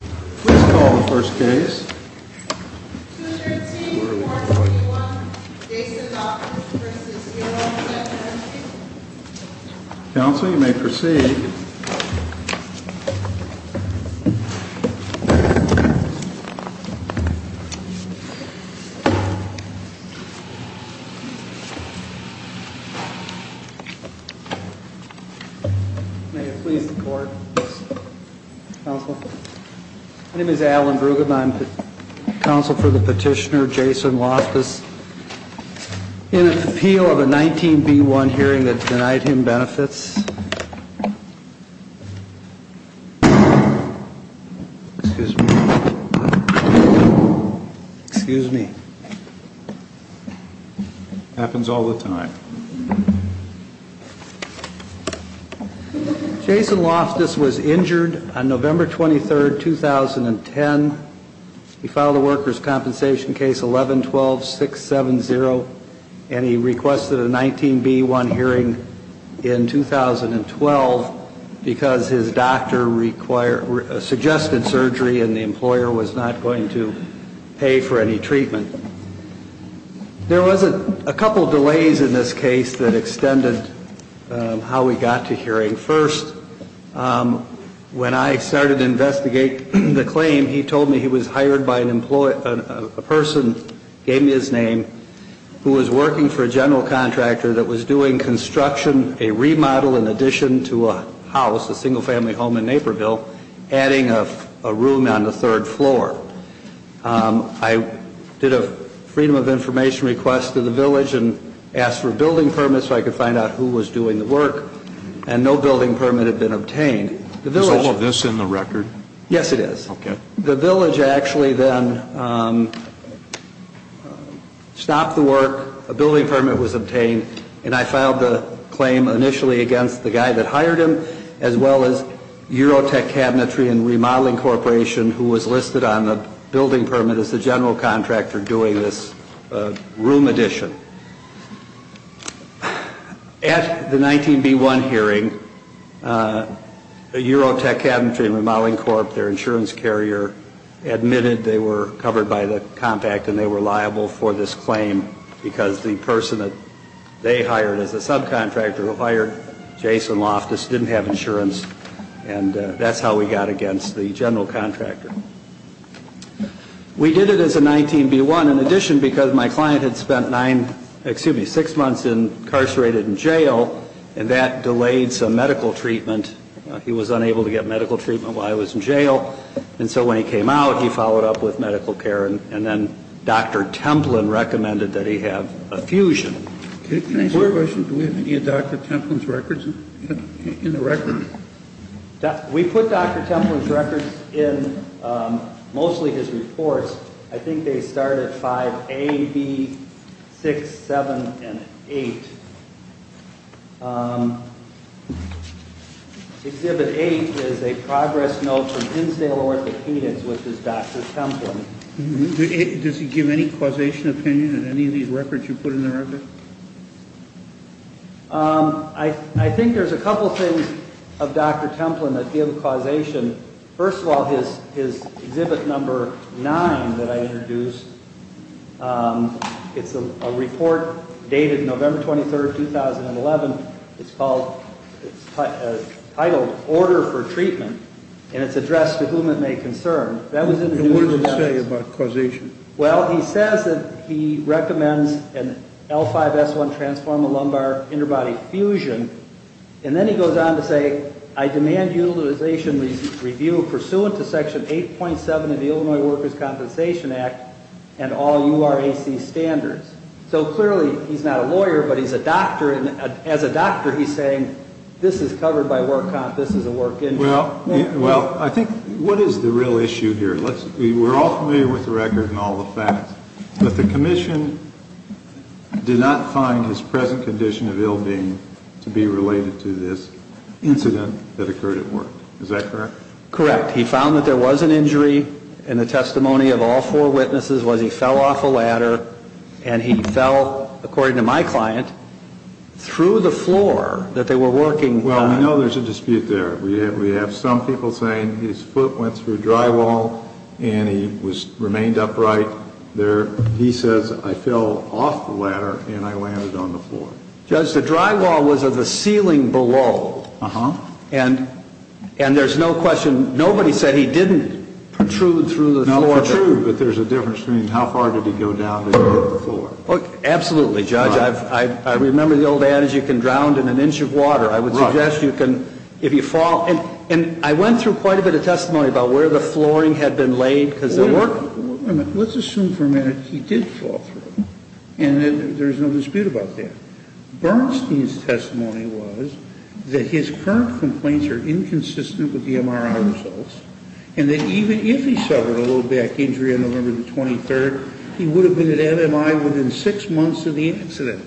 Please call the first case. 213-421, Jason Loftis v. Miro, Federal. Counsel, you may proceed. Thank you. May it please the court, counsel. My name is Alan Bruggemann. I'm counsel for the petitioner Jason Loftis. In an appeal of a 19B1 hearing that denied him benefits. Excuse me. Excuse me. Happens all the time. Jason Loftis was injured on November 23, 2010. He filed a workers' compensation case 11-12-670. And he requested a 19B1 hearing in 2012. Because his doctor required, suggested surgery and the employer was not going to pay for any treatment. There was a couple of delays in this case that extended how we got to hearing. First, when I started to investigate the claim, he told me he was hired by a person, gave me his name, who was working for a general contractor that was doing construction, a remodel in addition to a house, a single family home in Naperville, adding a room on the third floor. I did a freedom of information request to the village and asked for a building permit so I could find out who was doing the work. And no building permit had been obtained. Is all of this in the record? Yes, it is. Okay. The village actually then stopped the work, a building permit was obtained, and I filed the claim initially against the guy that hired him, as well as Eurotech Cabinetry and Remodeling Corporation, who was listed on the building permit as the general contractor doing this room addition. At the 19B1 hearing, Eurotech Cabinetry and Remodeling Corp, their insurance carrier, admitted they were covered by the compact and they were liable for this claim because the person that they hired as a subcontractor who hired Jason Loftus didn't have insurance, and that's how we got against the general contractor. We did it as a 19B1 in addition because my client had spent six months incarcerated in jail, and that delayed some medical treatment. He was unable to get medical treatment while he was in jail, and so when he came out, he followed up with medical care, and then Dr. Templin recommended that he have a fusion. Can I ask a question? Do we have any of Dr. Templin's records in the record? We put Dr. Templin's records in mostly his reports. I think they start at 5A, B, 6, 7, and 8. Exhibit 8 is a progress note from Insdale Orthopedics, which is Dr. Templin. Does he give any causation opinion in any of these records you put in the record? I think there's a couple things of Dr. Templin that give causation. First of all, his exhibit number 9 that I introduced, it's a report dated November 23, 2011. It's titled Order for Treatment, and it's addressed to whom it may concern. What does it say about causation? Well, he says that he recommends an L5-S1 transformer lumbar interbody fusion, and then he goes on to say, I demand utilization review pursuant to Section 8.7 of the Illinois Workers' Compensation Act and all URAC standards. So clearly he's not a lawyer, but as a doctor he's saying this is covered by work comp, this is a work injury. Well, I think what is the real issue here? We're all familiar with the record and all the facts, but the commission did not find his present condition of ill-being to be related to this incident that occurred at work. Is that correct? Correct. He found that there was an injury, and the testimony of all four witnesses was he fell off a ladder, and he fell, according to my client, through the floor that they were working on. Well, we know there's a dispute there. We have some people saying his foot went through drywall and he remained upright. He says, I fell off the ladder and I landed on the floor. Judge, the drywall was of the ceiling below, and there's no question, nobody said he didn't protrude through the floor. Not protrude, but there's a difference between how far did he go down and hit the floor. Absolutely, Judge. I remember the old adage, you can drown in an inch of water. I would suggest you can, if you fall. And I went through quite a bit of testimony about where the flooring had been laid because of work. Wait a minute. Let's assume for a minute he did fall through, and there's no dispute about that. Bernstein's testimony was that his current complaints are inconsistent with the MRI results, and that even if he suffered a low back injury on November the 23rd, he would have been at MMI within six months of the accident.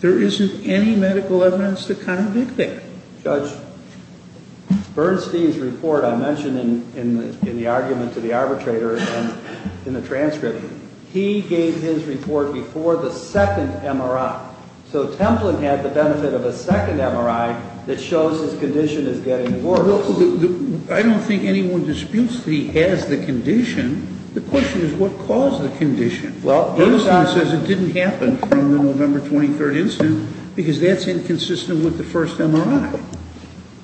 There isn't any medical evidence to convict him. Judge, Bernstein's report I mentioned in the argument to the arbitrator and in the transcript. He gave his report before the second MRI. So Templin had the benefit of a second MRI that shows his condition is getting worse. I don't think anyone disputes he has the condition. The question is what caused the condition. Bernstein says it didn't happen from the November 23rd incident because that's inconsistent with the first MRI.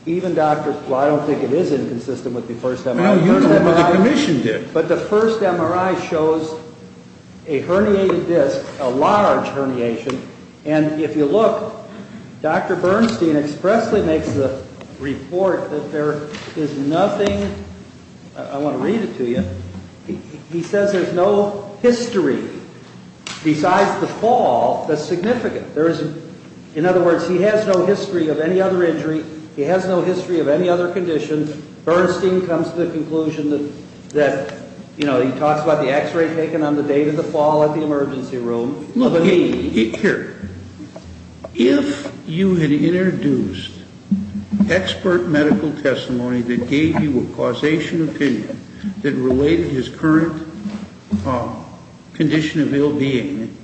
Well, I don't think it is inconsistent with the first MRI. Well, you don't know, but the commission did. But the first MRI shows a herniated disc, a large herniation. And if you look, Dr. Bernstein expressly makes the report that there is nothing. I want to read it to you. He says there's no history besides the fall that's significant. In other words, he has no history of any other injury. He has no history of any other condition. Bernstein comes to the conclusion that, you know, he talks about the X-ray taken on the day of the fall at the emergency room. Look, here, if you had introduced expert medical testimony that gave you a causation opinion that related his current condition of ill-being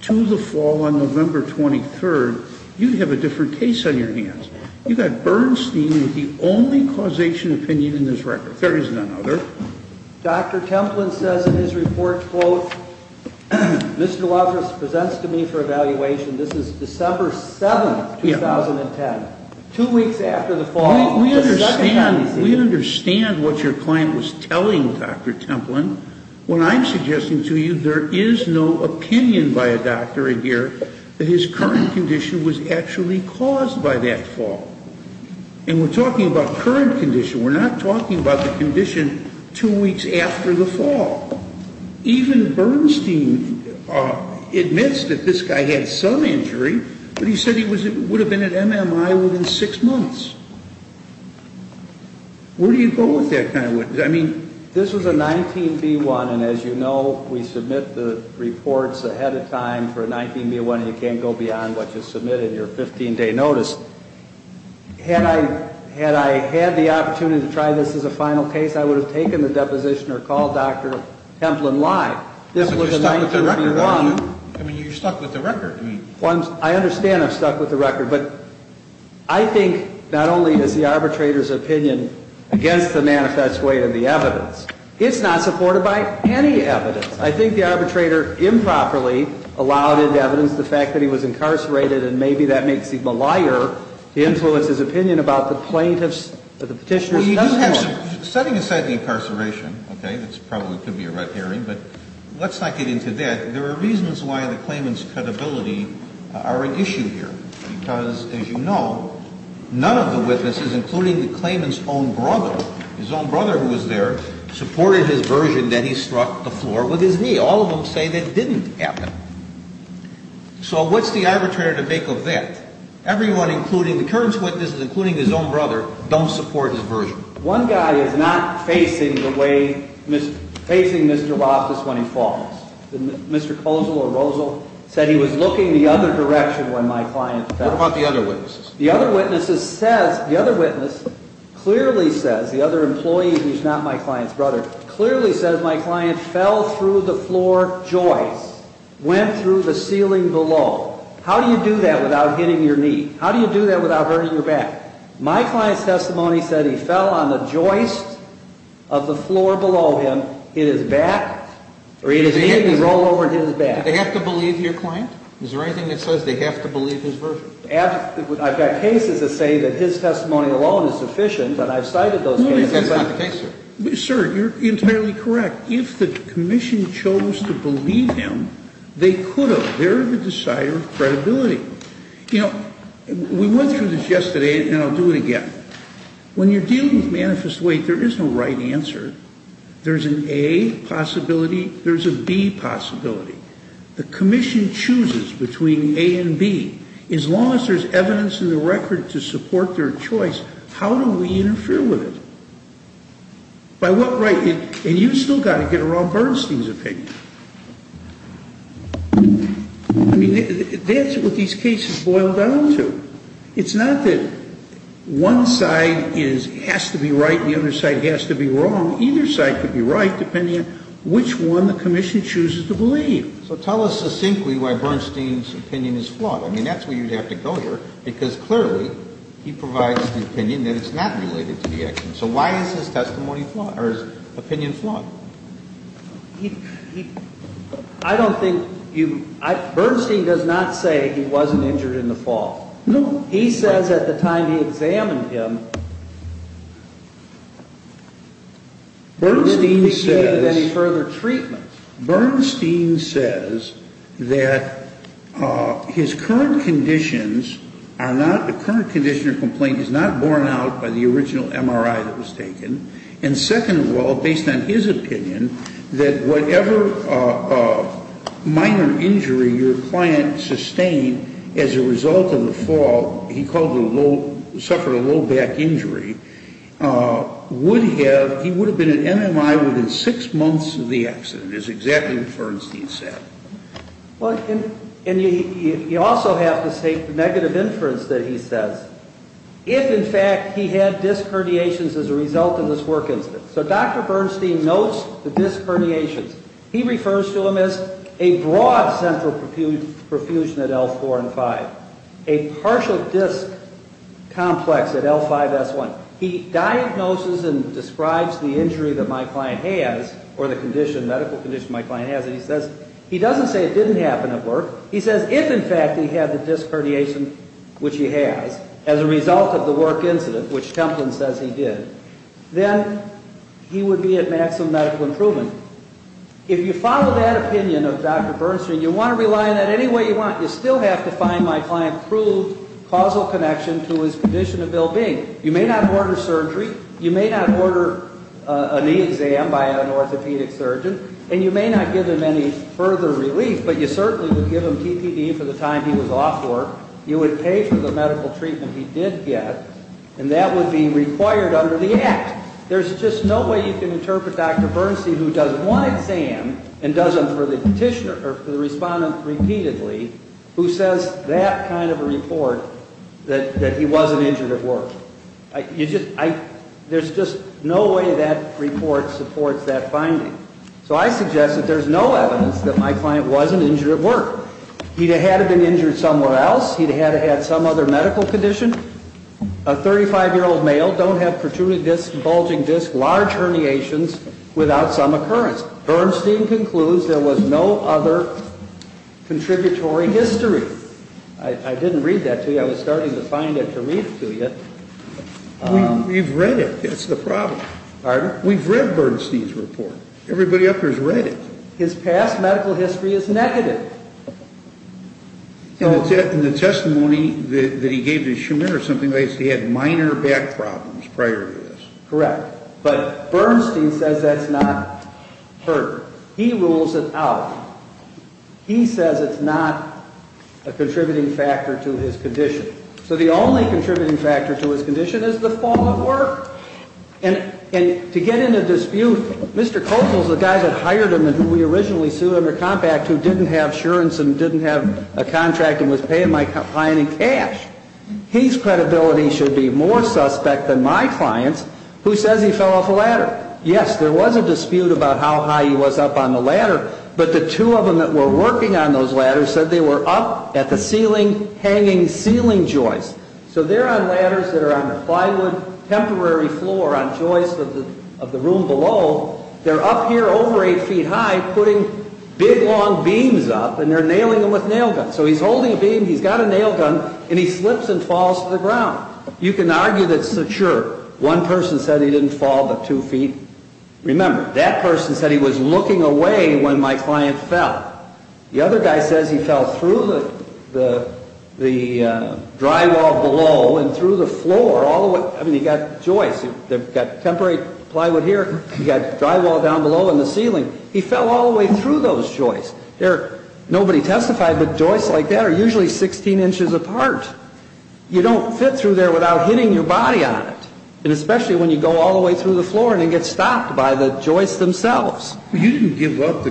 to the fall on November 23rd, you'd have a different case on your hands. You've got Bernstein with the only causation opinion in this record. There is none other. Dr. Templin says in his report, quote, Mr. Laffer presents to me for evaluation. This is December 7th, 2010, two weeks after the fall. We understand what your client was telling Dr. Templin. What I'm suggesting to you, there is no opinion by a doctor in here that his current condition was actually caused by that fall. And we're talking about current condition. We're not talking about the condition two weeks after the fall. Even Bernstein admits that this guy had some injury, but he said he would have been at MMI within six months. Where do you go with that kind of witness? I mean, this was a 19B1, and as you know, we submit the reports ahead of time for a 19B1, and you can't go beyond what you submit in your 15-day notice. Had I had the opportunity to try this as a final case, I would have taken the deposition or called Dr. Templin live. This was a 19B1. I mean, you're stuck with the record. I understand I'm stuck with the record. But I think not only is the arbitrator's opinion against the manifest way and the evidence, it's not supported by any evidence. I think the arbitrator improperly allowed into evidence the fact that he was incarcerated, and maybe that makes him a liar to influence his opinion about the plaintiff's or the petitioner's testimony. Setting aside the incarceration, okay, that probably could be a red herring, but let's not get into that. There are reasons why the claimant's credibility are an issue here because, as you know, none of the witnesses, including the claimant's own brother, his own brother who was there, supported his version that he struck the floor with his knee. All of them say that didn't happen. So what's the arbitrator to make of that? Everyone, including the current witnesses, including his own brother, don't support his version. One guy is not facing the way, facing Mr. Roth is when he falls. Mr. Kozel or Rozel said he was looking the other direction when my client fell. What about the other witnesses? The other witnesses says, the other witness clearly says, the other employee, he's not my client's brother, clearly says my client fell through the floor joist, went through the ceiling below. How do you do that without hitting your knee? How do you do that without hurting your back? My client's testimony said he fell on the joist of the floor below him in his back, or in his knee and he rolled over and hit his back. Do they have to believe your client? Is there anything that says they have to believe his version? I've got cases that say that his testimony alone is sufficient, but I've cited those cases. No, that's not the case, sir. Sir, you're entirely correct. If the commission chose to believe him, they could have. They're the decider of credibility. You know, we went through this yesterday, and I'll do it again. When you're dealing with manifest weight, there is no right answer. There's an A possibility. There's a B possibility. The commission chooses between A and B. As long as there's evidence in the record to support their choice, how do we interfere with it? By what right? And you've still got to get around Bernstein's opinion. I mean, that's what these cases boil down to. It's not that one side has to be right and the other side has to be wrong. Either side could be right depending on which one the commission chooses to believe. So tell us succinctly why Bernstein's opinion is flawed. I mean, that's where you'd have to go here, because clearly he provides the opinion that it's not related to the action. So why is his testimony flawed or his opinion flawed? I don't think you – Bernstein does not say he wasn't injured in the fall. No. He says at the time he examined him, he didn't receive any further treatment. Bernstein says that his current conditions are not – the current condition or complaint is not borne out by the original MRI that was taken. And second of all, based on his opinion, that whatever minor injury your client sustained as a result of the fall, he called it a low – suffered a low back injury, would have – he would have been at MMI within six months of the accident, is exactly what Bernstein said. Well, and you also have to take the negative inference that he says. If, in fact, he had disc herniations as a result of this work incident. So Dr. Bernstein knows the disc herniations. He refers to them as a broad central profusion at L4 and 5, a partial disc complex at L5, S1. He diagnoses and describes the injury that my client has or the condition, medical condition my client has, and he says – he doesn't say it didn't happen at work. He says if, in fact, he had the disc herniation, which he has, as a result of the work incident, which Templin says he did, then he would be at maximum medical improvement. If you follow that opinion of Dr. Bernstein, you want to rely on that any way you want, you still have to find my client proved causal connection to his condition of ill-being. You may not order surgery. You may not order a knee exam by an orthopedic surgeon. And you may not give him any further relief, but you certainly would give him TPD for the time he was off work. You would pay for the medical treatment he did get, and that would be required under the Act. There's just no way you can interpret Dr. Bernstein, who does one exam and does them for the petitioner or for the respondent repeatedly, who says that kind of a report that he wasn't injured at work. There's just no way that report supports that finding. So I suggest that there's no evidence that my client wasn't injured at work. He'd had to have been injured somewhere else. He'd had to have had some other medical condition. A 35-year-old male, don't have protruding discs, bulging discs, large herniations without some occurrence. Bernstein concludes there was no other contributory history. I didn't read that to you. I was starting to find it to read it to you. We've read it. That's the problem. Pardon? We've read Bernstein's report. Everybody up there has read it. His past medical history is negative. In the testimony that he gave to Schumer or something, they said he had minor back problems prior to this. Correct. But Bernstein says that's not heard. He rules it out. He says it's not a contributing factor to his condition. So the only contributing factor to his condition is the fall of work. And to get in a dispute, Mr. Kossel is the guy that hired him and who we originally sued under Compact who didn't have insurance and didn't have a contract and was paying my client in cash. His credibility should be more suspect than my client's who says he fell off a ladder. Yes, there was a dispute about how high he was up on the ladder, but the two of them that were working on those ladders said they were up at the ceiling hanging ceiling joists. So they're on ladders that are on a plywood temporary floor on joists of the room below. They're up here over 8 feet high putting big, long beams up, and they're nailing them with nail guns. So he's holding a beam, he's got a nail gun, and he slips and falls to the ground. You can argue that's secure. One person said he didn't fall but 2 feet. Remember, that person said he was looking away when my client fell. The other guy says he fell through the drywall below and through the floor all the way. I mean, you've got joists. You've got temporary plywood here. You've got drywall down below and the ceiling. He fell all the way through those joists. Nobody testified, but joists like that are usually 16 inches apart. You don't fit through there without hitting your body on it, and especially when you go all the way through the floor and then get stopped by the joists themselves. You didn't give up the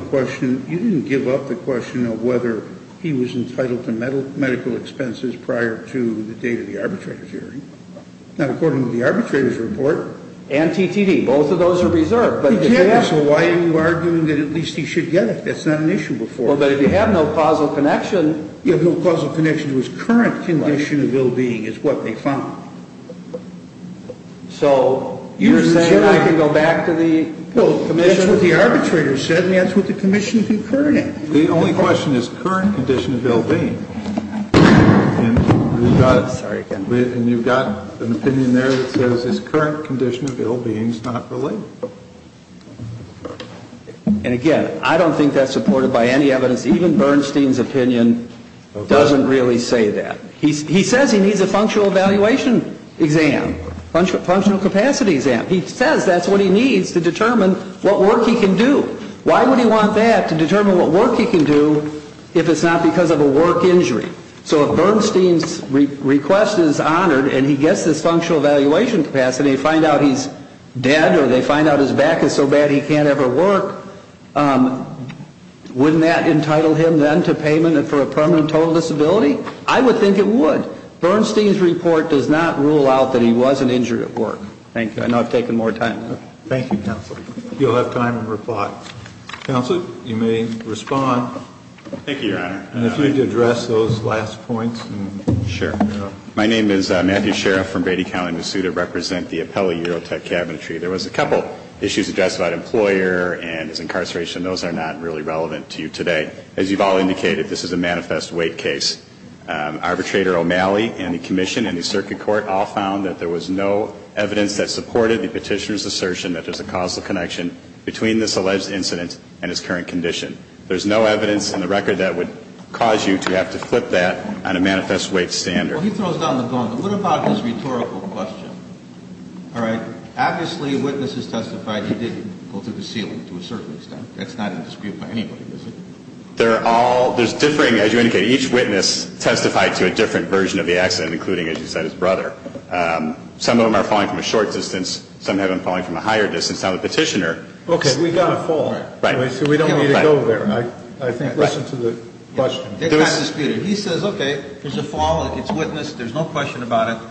question of whether he was entitled to medical expenses prior to the date of the arbitrator's hearing. Now, according to the arbitrator's report... And TTD. Both of those are reserved. Exactly. So why are you arguing that at least he should get it? That's not an issue before. Well, but if you have no causal connection... You have no causal connection to his current condition of ill-being is what they found. So you're saying I can go back to the commission... Well, that's what the arbitrator said, and that's what the commission concurred in. The only question is current condition of ill-being. Sorry again. And you've got an opinion there that says his current condition of ill-being is not related. And again, I don't think that's supported by any evidence. Even Bernstein's opinion doesn't really say that. He says he needs a functional evaluation exam, functional capacity exam. He says that's what he needs to determine what work he can do. Why would he want that to determine what work he can do if it's not because of a work injury? So if Bernstein's request is honored and he gets this functional evaluation capacity, and they find out he's dead or they find out his back is so bad he can't ever work, wouldn't that entitle him then to payment for a permanent total disability? I would think it would. Bernstein's report does not rule out that he was an injury at work. Thank you. I know I've taken more time. Thank you, Counsel. You'll have time to reply. Counsel, you may respond. Thank you, Your Honor. And if you'd address those last points. Sure. My name is Matthew Sheriff from Brady County, Missoula. I represent the Appellee EuroTech Cabinetry. There was a couple issues addressed about an employer and his incarceration. Those are not really relevant to you today. As you've all indicated, this is a manifest weight case. Arbitrator O'Malley and the Commission and the Circuit Court all found that there was no evidence that supported the petitioner's assertion that there's a causal connection between this alleged incident and his current condition. There's no evidence in the record that would cause you to have to flip that on a manifest weight standard. Well, he throws down the bone. But what about this rhetorical question? All right. Obviously, witnesses testified he didn't go through the ceiling to a certain extent. That's not a dispute by anybody, is it? They're all – there's differing, as you indicated. Each witness testified to a different version of the accident, including, as you said, his brother. Some of them are falling from a short distance. Some have them falling from a higher distance. Now, the petitioner – Okay. We've got a fall. Right. So we don't need to go there. I think, listen to the question. It's not a dispute. He says, okay, there's a fall. It's a witness. There's no question about it.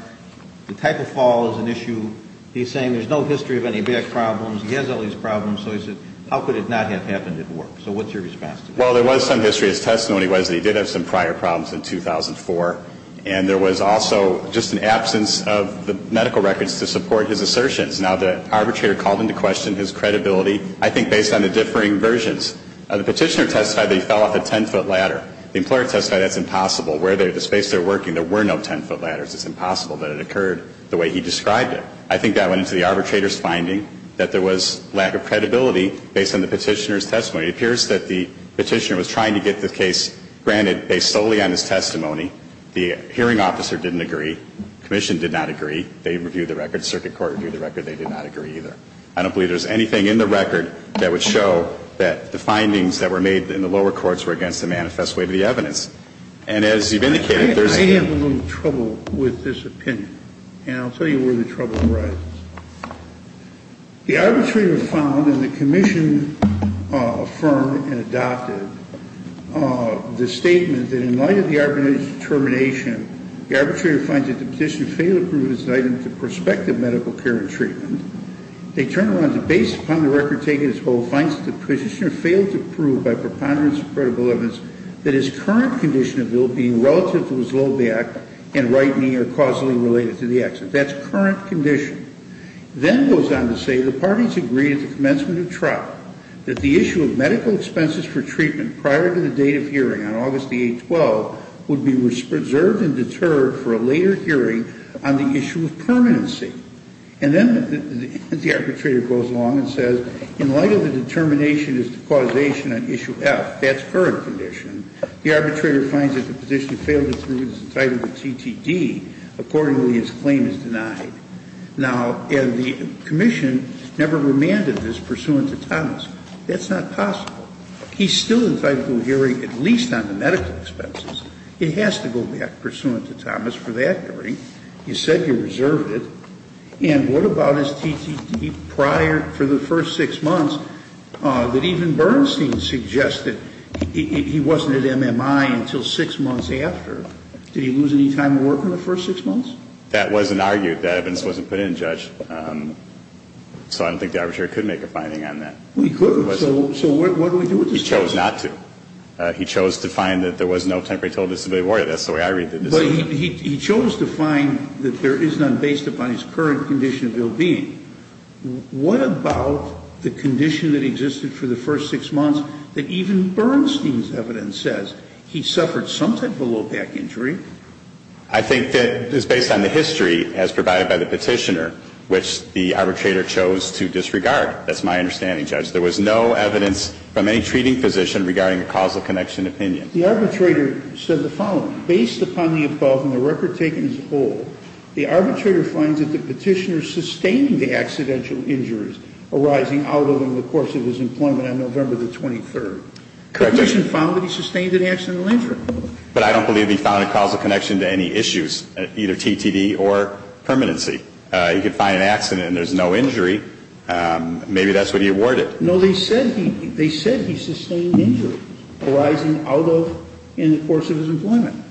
The type of fall is an issue. He's saying there's no history of any bad problems. He has all these problems. So he says, how could it not have happened at work? So what's your response to that? Well, there was some history. His testimony was that he did have some prior problems in 2004. And there was also just an absence of the medical records to support his assertions. Now, the arbitrator called into question his credibility. I think based on the differing versions. The petitioner testified that he fell off a 10-foot ladder. The employer testified that's impossible. Where they're – the space they're working, there were no 10-foot ladders. It's impossible that it occurred the way he described it. I think that went into the arbitrator's finding that there was lack of credibility based on the petitioner's testimony. It appears that the petitioner was trying to get the case granted based solely on his testimony. The hearing officer didn't agree. The commission did not agree. They reviewed the record. The circuit court reviewed the record. They did not agree either. I don't believe there's anything in the record that would show that the findings that were made in the lower courts were against the manifest way of the evidence. And as you've indicated, there's – I have a little trouble with this opinion. And I'll tell you where the trouble arises. The arbitrator found in the commission affirmed and adopted the statement that in light of the arbitrator's determination, the arbitrator finds that the petitioner failed to prove his indictment to prospective medical care and treatment. They turn around to base upon the record taken as whole, finds that the petitioner failed to prove by preponderance of credible evidence that his current condition of ill-being relative to his low back and right knee are causally related to the accident. That's current condition. Then it goes on to say the parties agreed at the commencement of trial that the issue of medical expenses for treatment prior to the date of hearing on August the 8th, 12th, would be reserved and deterred for a later hearing on the issue of permanency. And then the arbitrator goes along and says in light of the determination as to causation on issue F, that's current condition, the arbitrator finds that the petitioner failed to prove his indictment to TTD. Accordingly, his claim is denied. Now, and the commission never remanded this pursuant to Thomas. That's not possible. He's still entitled to a hearing at least on the medical expenses. It has to go back pursuant to Thomas for that hearing. You said you reserved it. And what about his TTD prior for the first six months that even Bernstein suggested he wasn't at MMI until six months after? Did he lose any time at work in the first six months? That wasn't argued. That evidence wasn't put in, Judge. So I don't think the arbitrator could make a finding on that. We could. So what do we do with this case? He chose not to. He chose to find that there was no temporary total disability warrant. That's the way I read the decision. But he chose to find that there is none based upon his current condition of ill-being. What about the condition that existed for the first six months that even Bernstein's evidence says he suffered some type of low back injury? I think that it's based on the history as provided by the petitioner, which the arbitrator chose to disregard. That's my understanding, Judge. There was no evidence from any treating physician regarding a causal connection opinion. The arbitrator said the following. Based upon the above and the record taken as a whole, the arbitrator finds that the petitioner sustained the accidental injuries arising out of and in the course of his employment on November the 23rd. Correct me if I'm wrong, but he sustained an accidental injury. But I don't believe he found a causal connection to any issues, either TTD or permanency. He could find an accident and there's no injury. Maybe that's what he awarded. No, they said he sustained injury arising out of and in the course of his employment.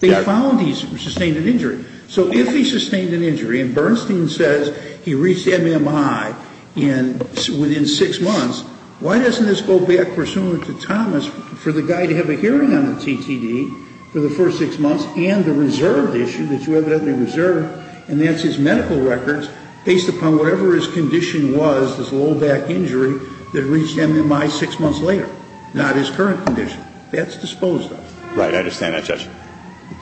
They found he sustained an injury. So if he sustained an injury and Bernstein says he reached MMI within six months, why doesn't this go back pursuant to Thomas for the guy to have a hearing on the TTD for the first six months and the reserved issue that you evidently reserved, and that's his medical records, based upon whatever his condition was, his low back injury that reached MMI six months later, not his current condition. That's disposed of. Right. I understand that, Judge.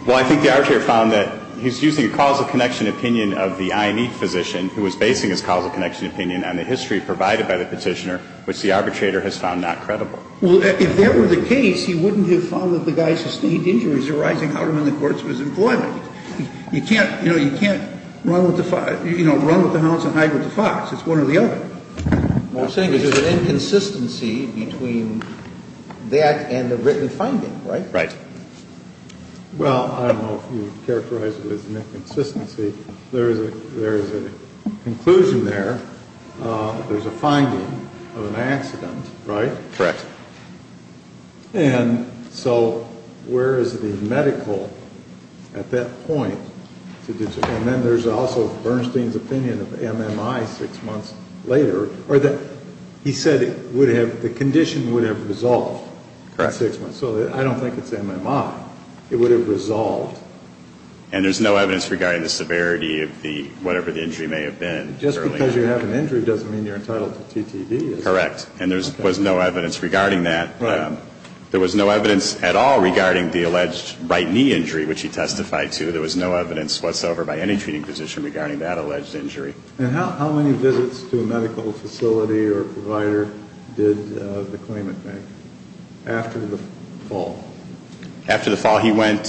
Well, I think the arbitrator found that he's using a causal connection opinion of the IME physician who was basing his causal connection opinion on the history provided by the petitioner, which the arbitrator has found not credible. Well, if that were the case, he wouldn't have found that the guy sustained injuries arising out of and in the course of his employment. You can't run with the hounds and hide with the fox. It's one or the other. What I'm saying is there's an inconsistency between that and the written finding, right? Right. Well, I don't know if you'd characterize it as an inconsistency. There is a conclusion there. There's a finding of an accident, right? Correct. And so where is the medical at that point? And then there's also Bernstein's opinion of MMI six months later, or that he said it would have, the condition would have resolved. Correct. So I don't think it's MMI. It would have resolved. And there's no evidence regarding the severity of the, whatever the injury may have been. Just because you have an injury doesn't mean you're entitled to TTD. Correct. And there was no evidence regarding that. Right. There was no evidence at all regarding the alleged right knee injury, which he testified to. There was no evidence whatsoever by any treating physician regarding that alleged injury. And how many visits to a medical facility or provider did the claimant make after the fall? After the fall, he went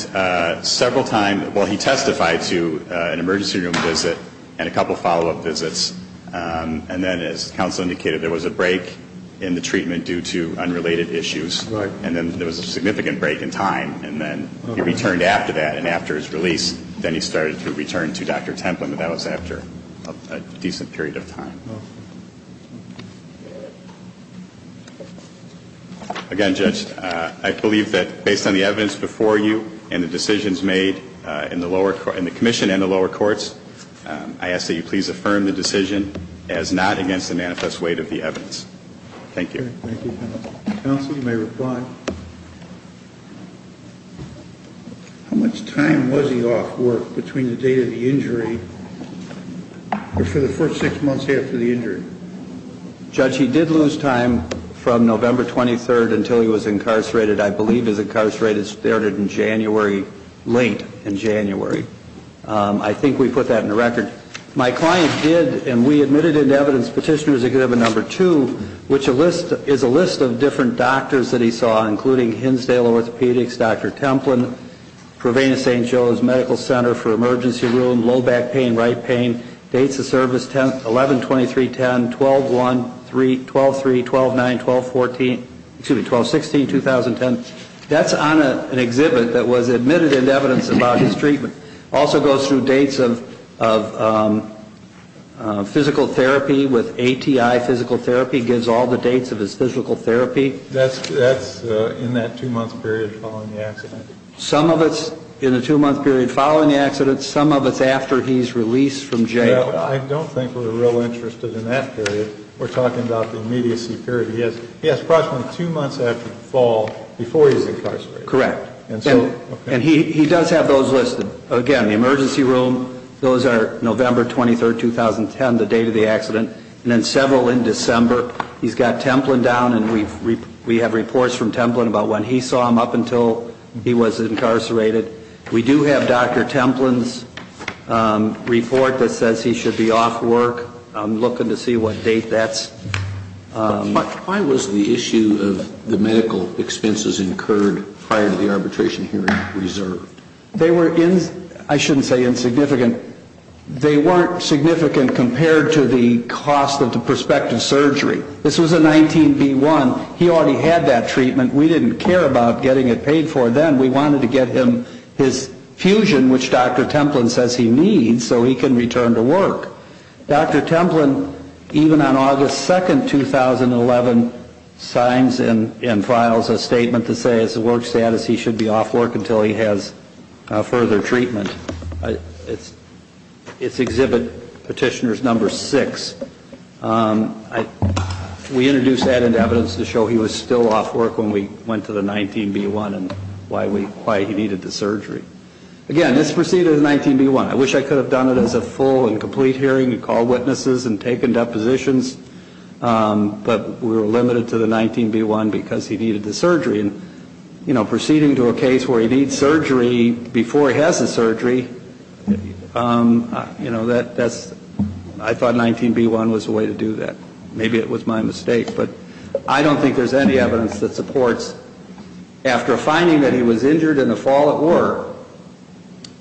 several times. Well, he testified to an emergency room visit and a couple follow-up visits. And then, as counsel indicated, there was a break in the treatment due to unrelated issues. Right. And then there was a significant break in time. And then he returned after that. And after his release, then he started to return to Dr. Templin. But that was after a decent period of time. Again, Judge, I believe that based on the evidence before you and the decisions made in the lower, in the commission and the lower courts, I ask that you please affirm the decision as not against the manifest weight of the evidence. Thank you. Thank you, counsel. Counsel, you may reply. How much time was he off work between the date of the injury or for the first six months after the injury? Judge, he did lose time from November 23rd until he was incarcerated. I believe his incarceration started in January, late in January. I think we put that in the record. My client did, and we admitted into evidence Petitioner's Exhibit No. 2, which is a list of different doctors that he saw, including Hinsdale Orthopedics, Dr. Templin, Provena St. Joe's Medical Center for Emergency Room, low back pain, right pain, dates of service 11-23-10, 12-1-3, 12-3, 12-9, 12-14, excuse me, 12-16-2010. That's on an exhibit that was admitted into evidence about his treatment. Also goes through dates of physical therapy with ATI Physical Therapy, gives all the dates of his physical therapy. That's in that two-month period following the accident. Some of it's in the two-month period following the accident. Some of it's after he's released from jail. I don't think we're real interested in that period. We're talking about the immediacy period. He has approximately two months after the fall before he's incarcerated. Correct. And he does have those listed. Again, the emergency room, those are November 23, 2010, the date of the accident, and then several in December. He's got Templin down, and we have reports from Templin about when he saw him up until he was incarcerated. We do have Dr. Templin's report that says he should be off work. I'm looking to see what date that's. Why was the issue of the medical expenses incurred prior to the arbitration hearing reserved? They were, I shouldn't say insignificant, they weren't significant compared to the cost of the prospective surgery. This was a 19B1. He already had that treatment. We didn't care about getting it paid for then. We wanted to get him his fusion, which Dr. Templin says he needs so he can return to work. Dr. Templin, even on August 2, 2011, signs and files a statement to say his work status, he should be off work until he has further treatment. It's Exhibit Petitioner's No. 6. We introduced added evidence to show he was still off work when we went to the 19B1 and why he needed the surgery. Again, this preceded the 19B1. I wish I could have done it as a full and complete hearing and call witnesses and taken depositions, but we were limited to the 19B1 because he needed the surgery. And, you know, proceeding to a case where he needs surgery before he has the surgery, you know, that's, I thought 19B1 was the way to do that. Maybe it was my mistake, but I don't think there's any evidence that supports, after a finding that he was injured in a fall at work,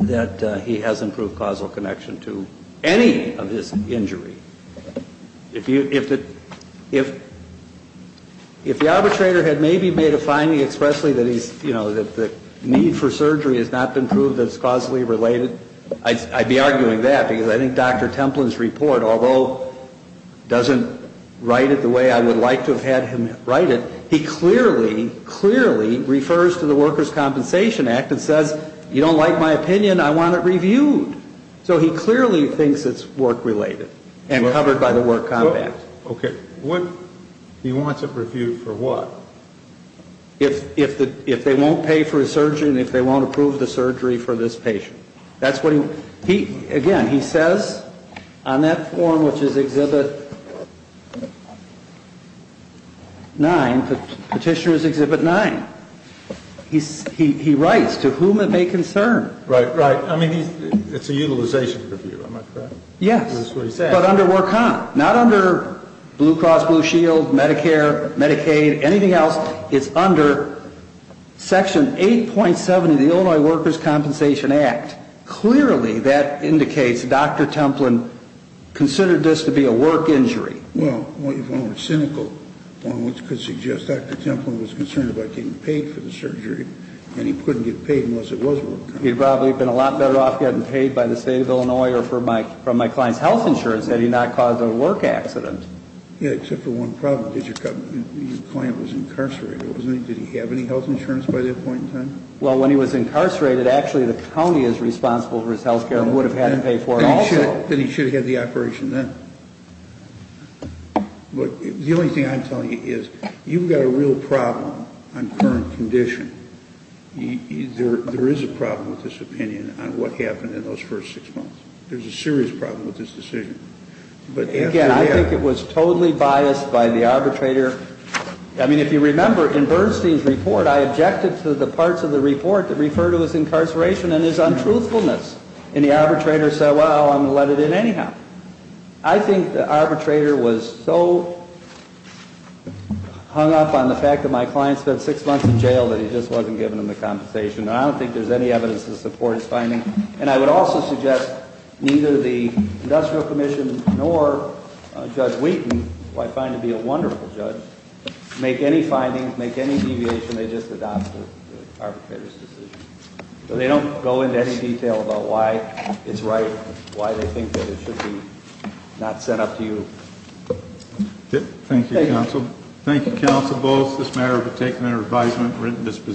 that he has improved causal connection to any of his injury. If the arbitrator had maybe made a finding expressly that he's, you know, that the need for surgery has not been proved as causally related, I'd be arguing that, because I think Dr. Templin's report, although doesn't write it the way I would like to have had him write it, he clearly, clearly refers to the Workers' Compensation Act and says, you don't like my opinion, I want it reviewed. So he clearly thinks it's work-related and covered by the Work Compact. Okay. He wants it reviewed for what? If they won't pay for his surgery and if they won't approve the surgery for this patient. Again, he says on that form, which is Exhibit 9, Petitioner's Exhibit 9, he writes, to whom it may concern. Right, right. I mean, it's a utilization review, am I correct? Yes, but under Work Comp, not under Blue Cross Blue Shield, Medicare, Medicaid, anything else. Well, it's under Section 8.7 of the Illinois Workers' Compensation Act. Clearly that indicates Dr. Templin considered this to be a work injury. Well, if one were cynical, one could suggest Dr. Templin was concerned about getting paid for the surgery, and he couldn't get paid unless it was Work Comp. He'd probably have been a lot better off getting paid by the State of Illinois or from my client's health insurance had he not caused a work accident. Yeah, except for one problem. Your client was incarcerated, wasn't he? Did he have any health insurance by that point in time? Well, when he was incarcerated, actually the county is responsible for his health care and would have had to pay for it also. Then he should have had the operation then. But the only thing I'm telling you is you've got a real problem on current condition. There is a problem with this opinion on what happened in those first six months. There's a serious problem with this decision. Again, I think it was totally biased by the arbitrator. I mean, if you remember in Bernstein's report, I objected to the parts of the report that referred to his incarceration and his untruthfulness, and the arbitrator said, well, I'm going to let it in anyhow. I think the arbitrator was so hung up on the fact that my client spent six months in jail that he just wasn't giving him the compensation, and I don't think there's any evidence to support his finding. And I would also suggest neither the Industrial Commission nor Judge Wheaton, who I find to be a wonderful judge, make any findings, make any deviation, they just adopt the arbitrator's decision. So they don't go into any detail about why it's right, why they think that it should be not sent up to you. Thank you, counsel. Thank you, counsel, both. This matter has been taken under advisement and written disposition.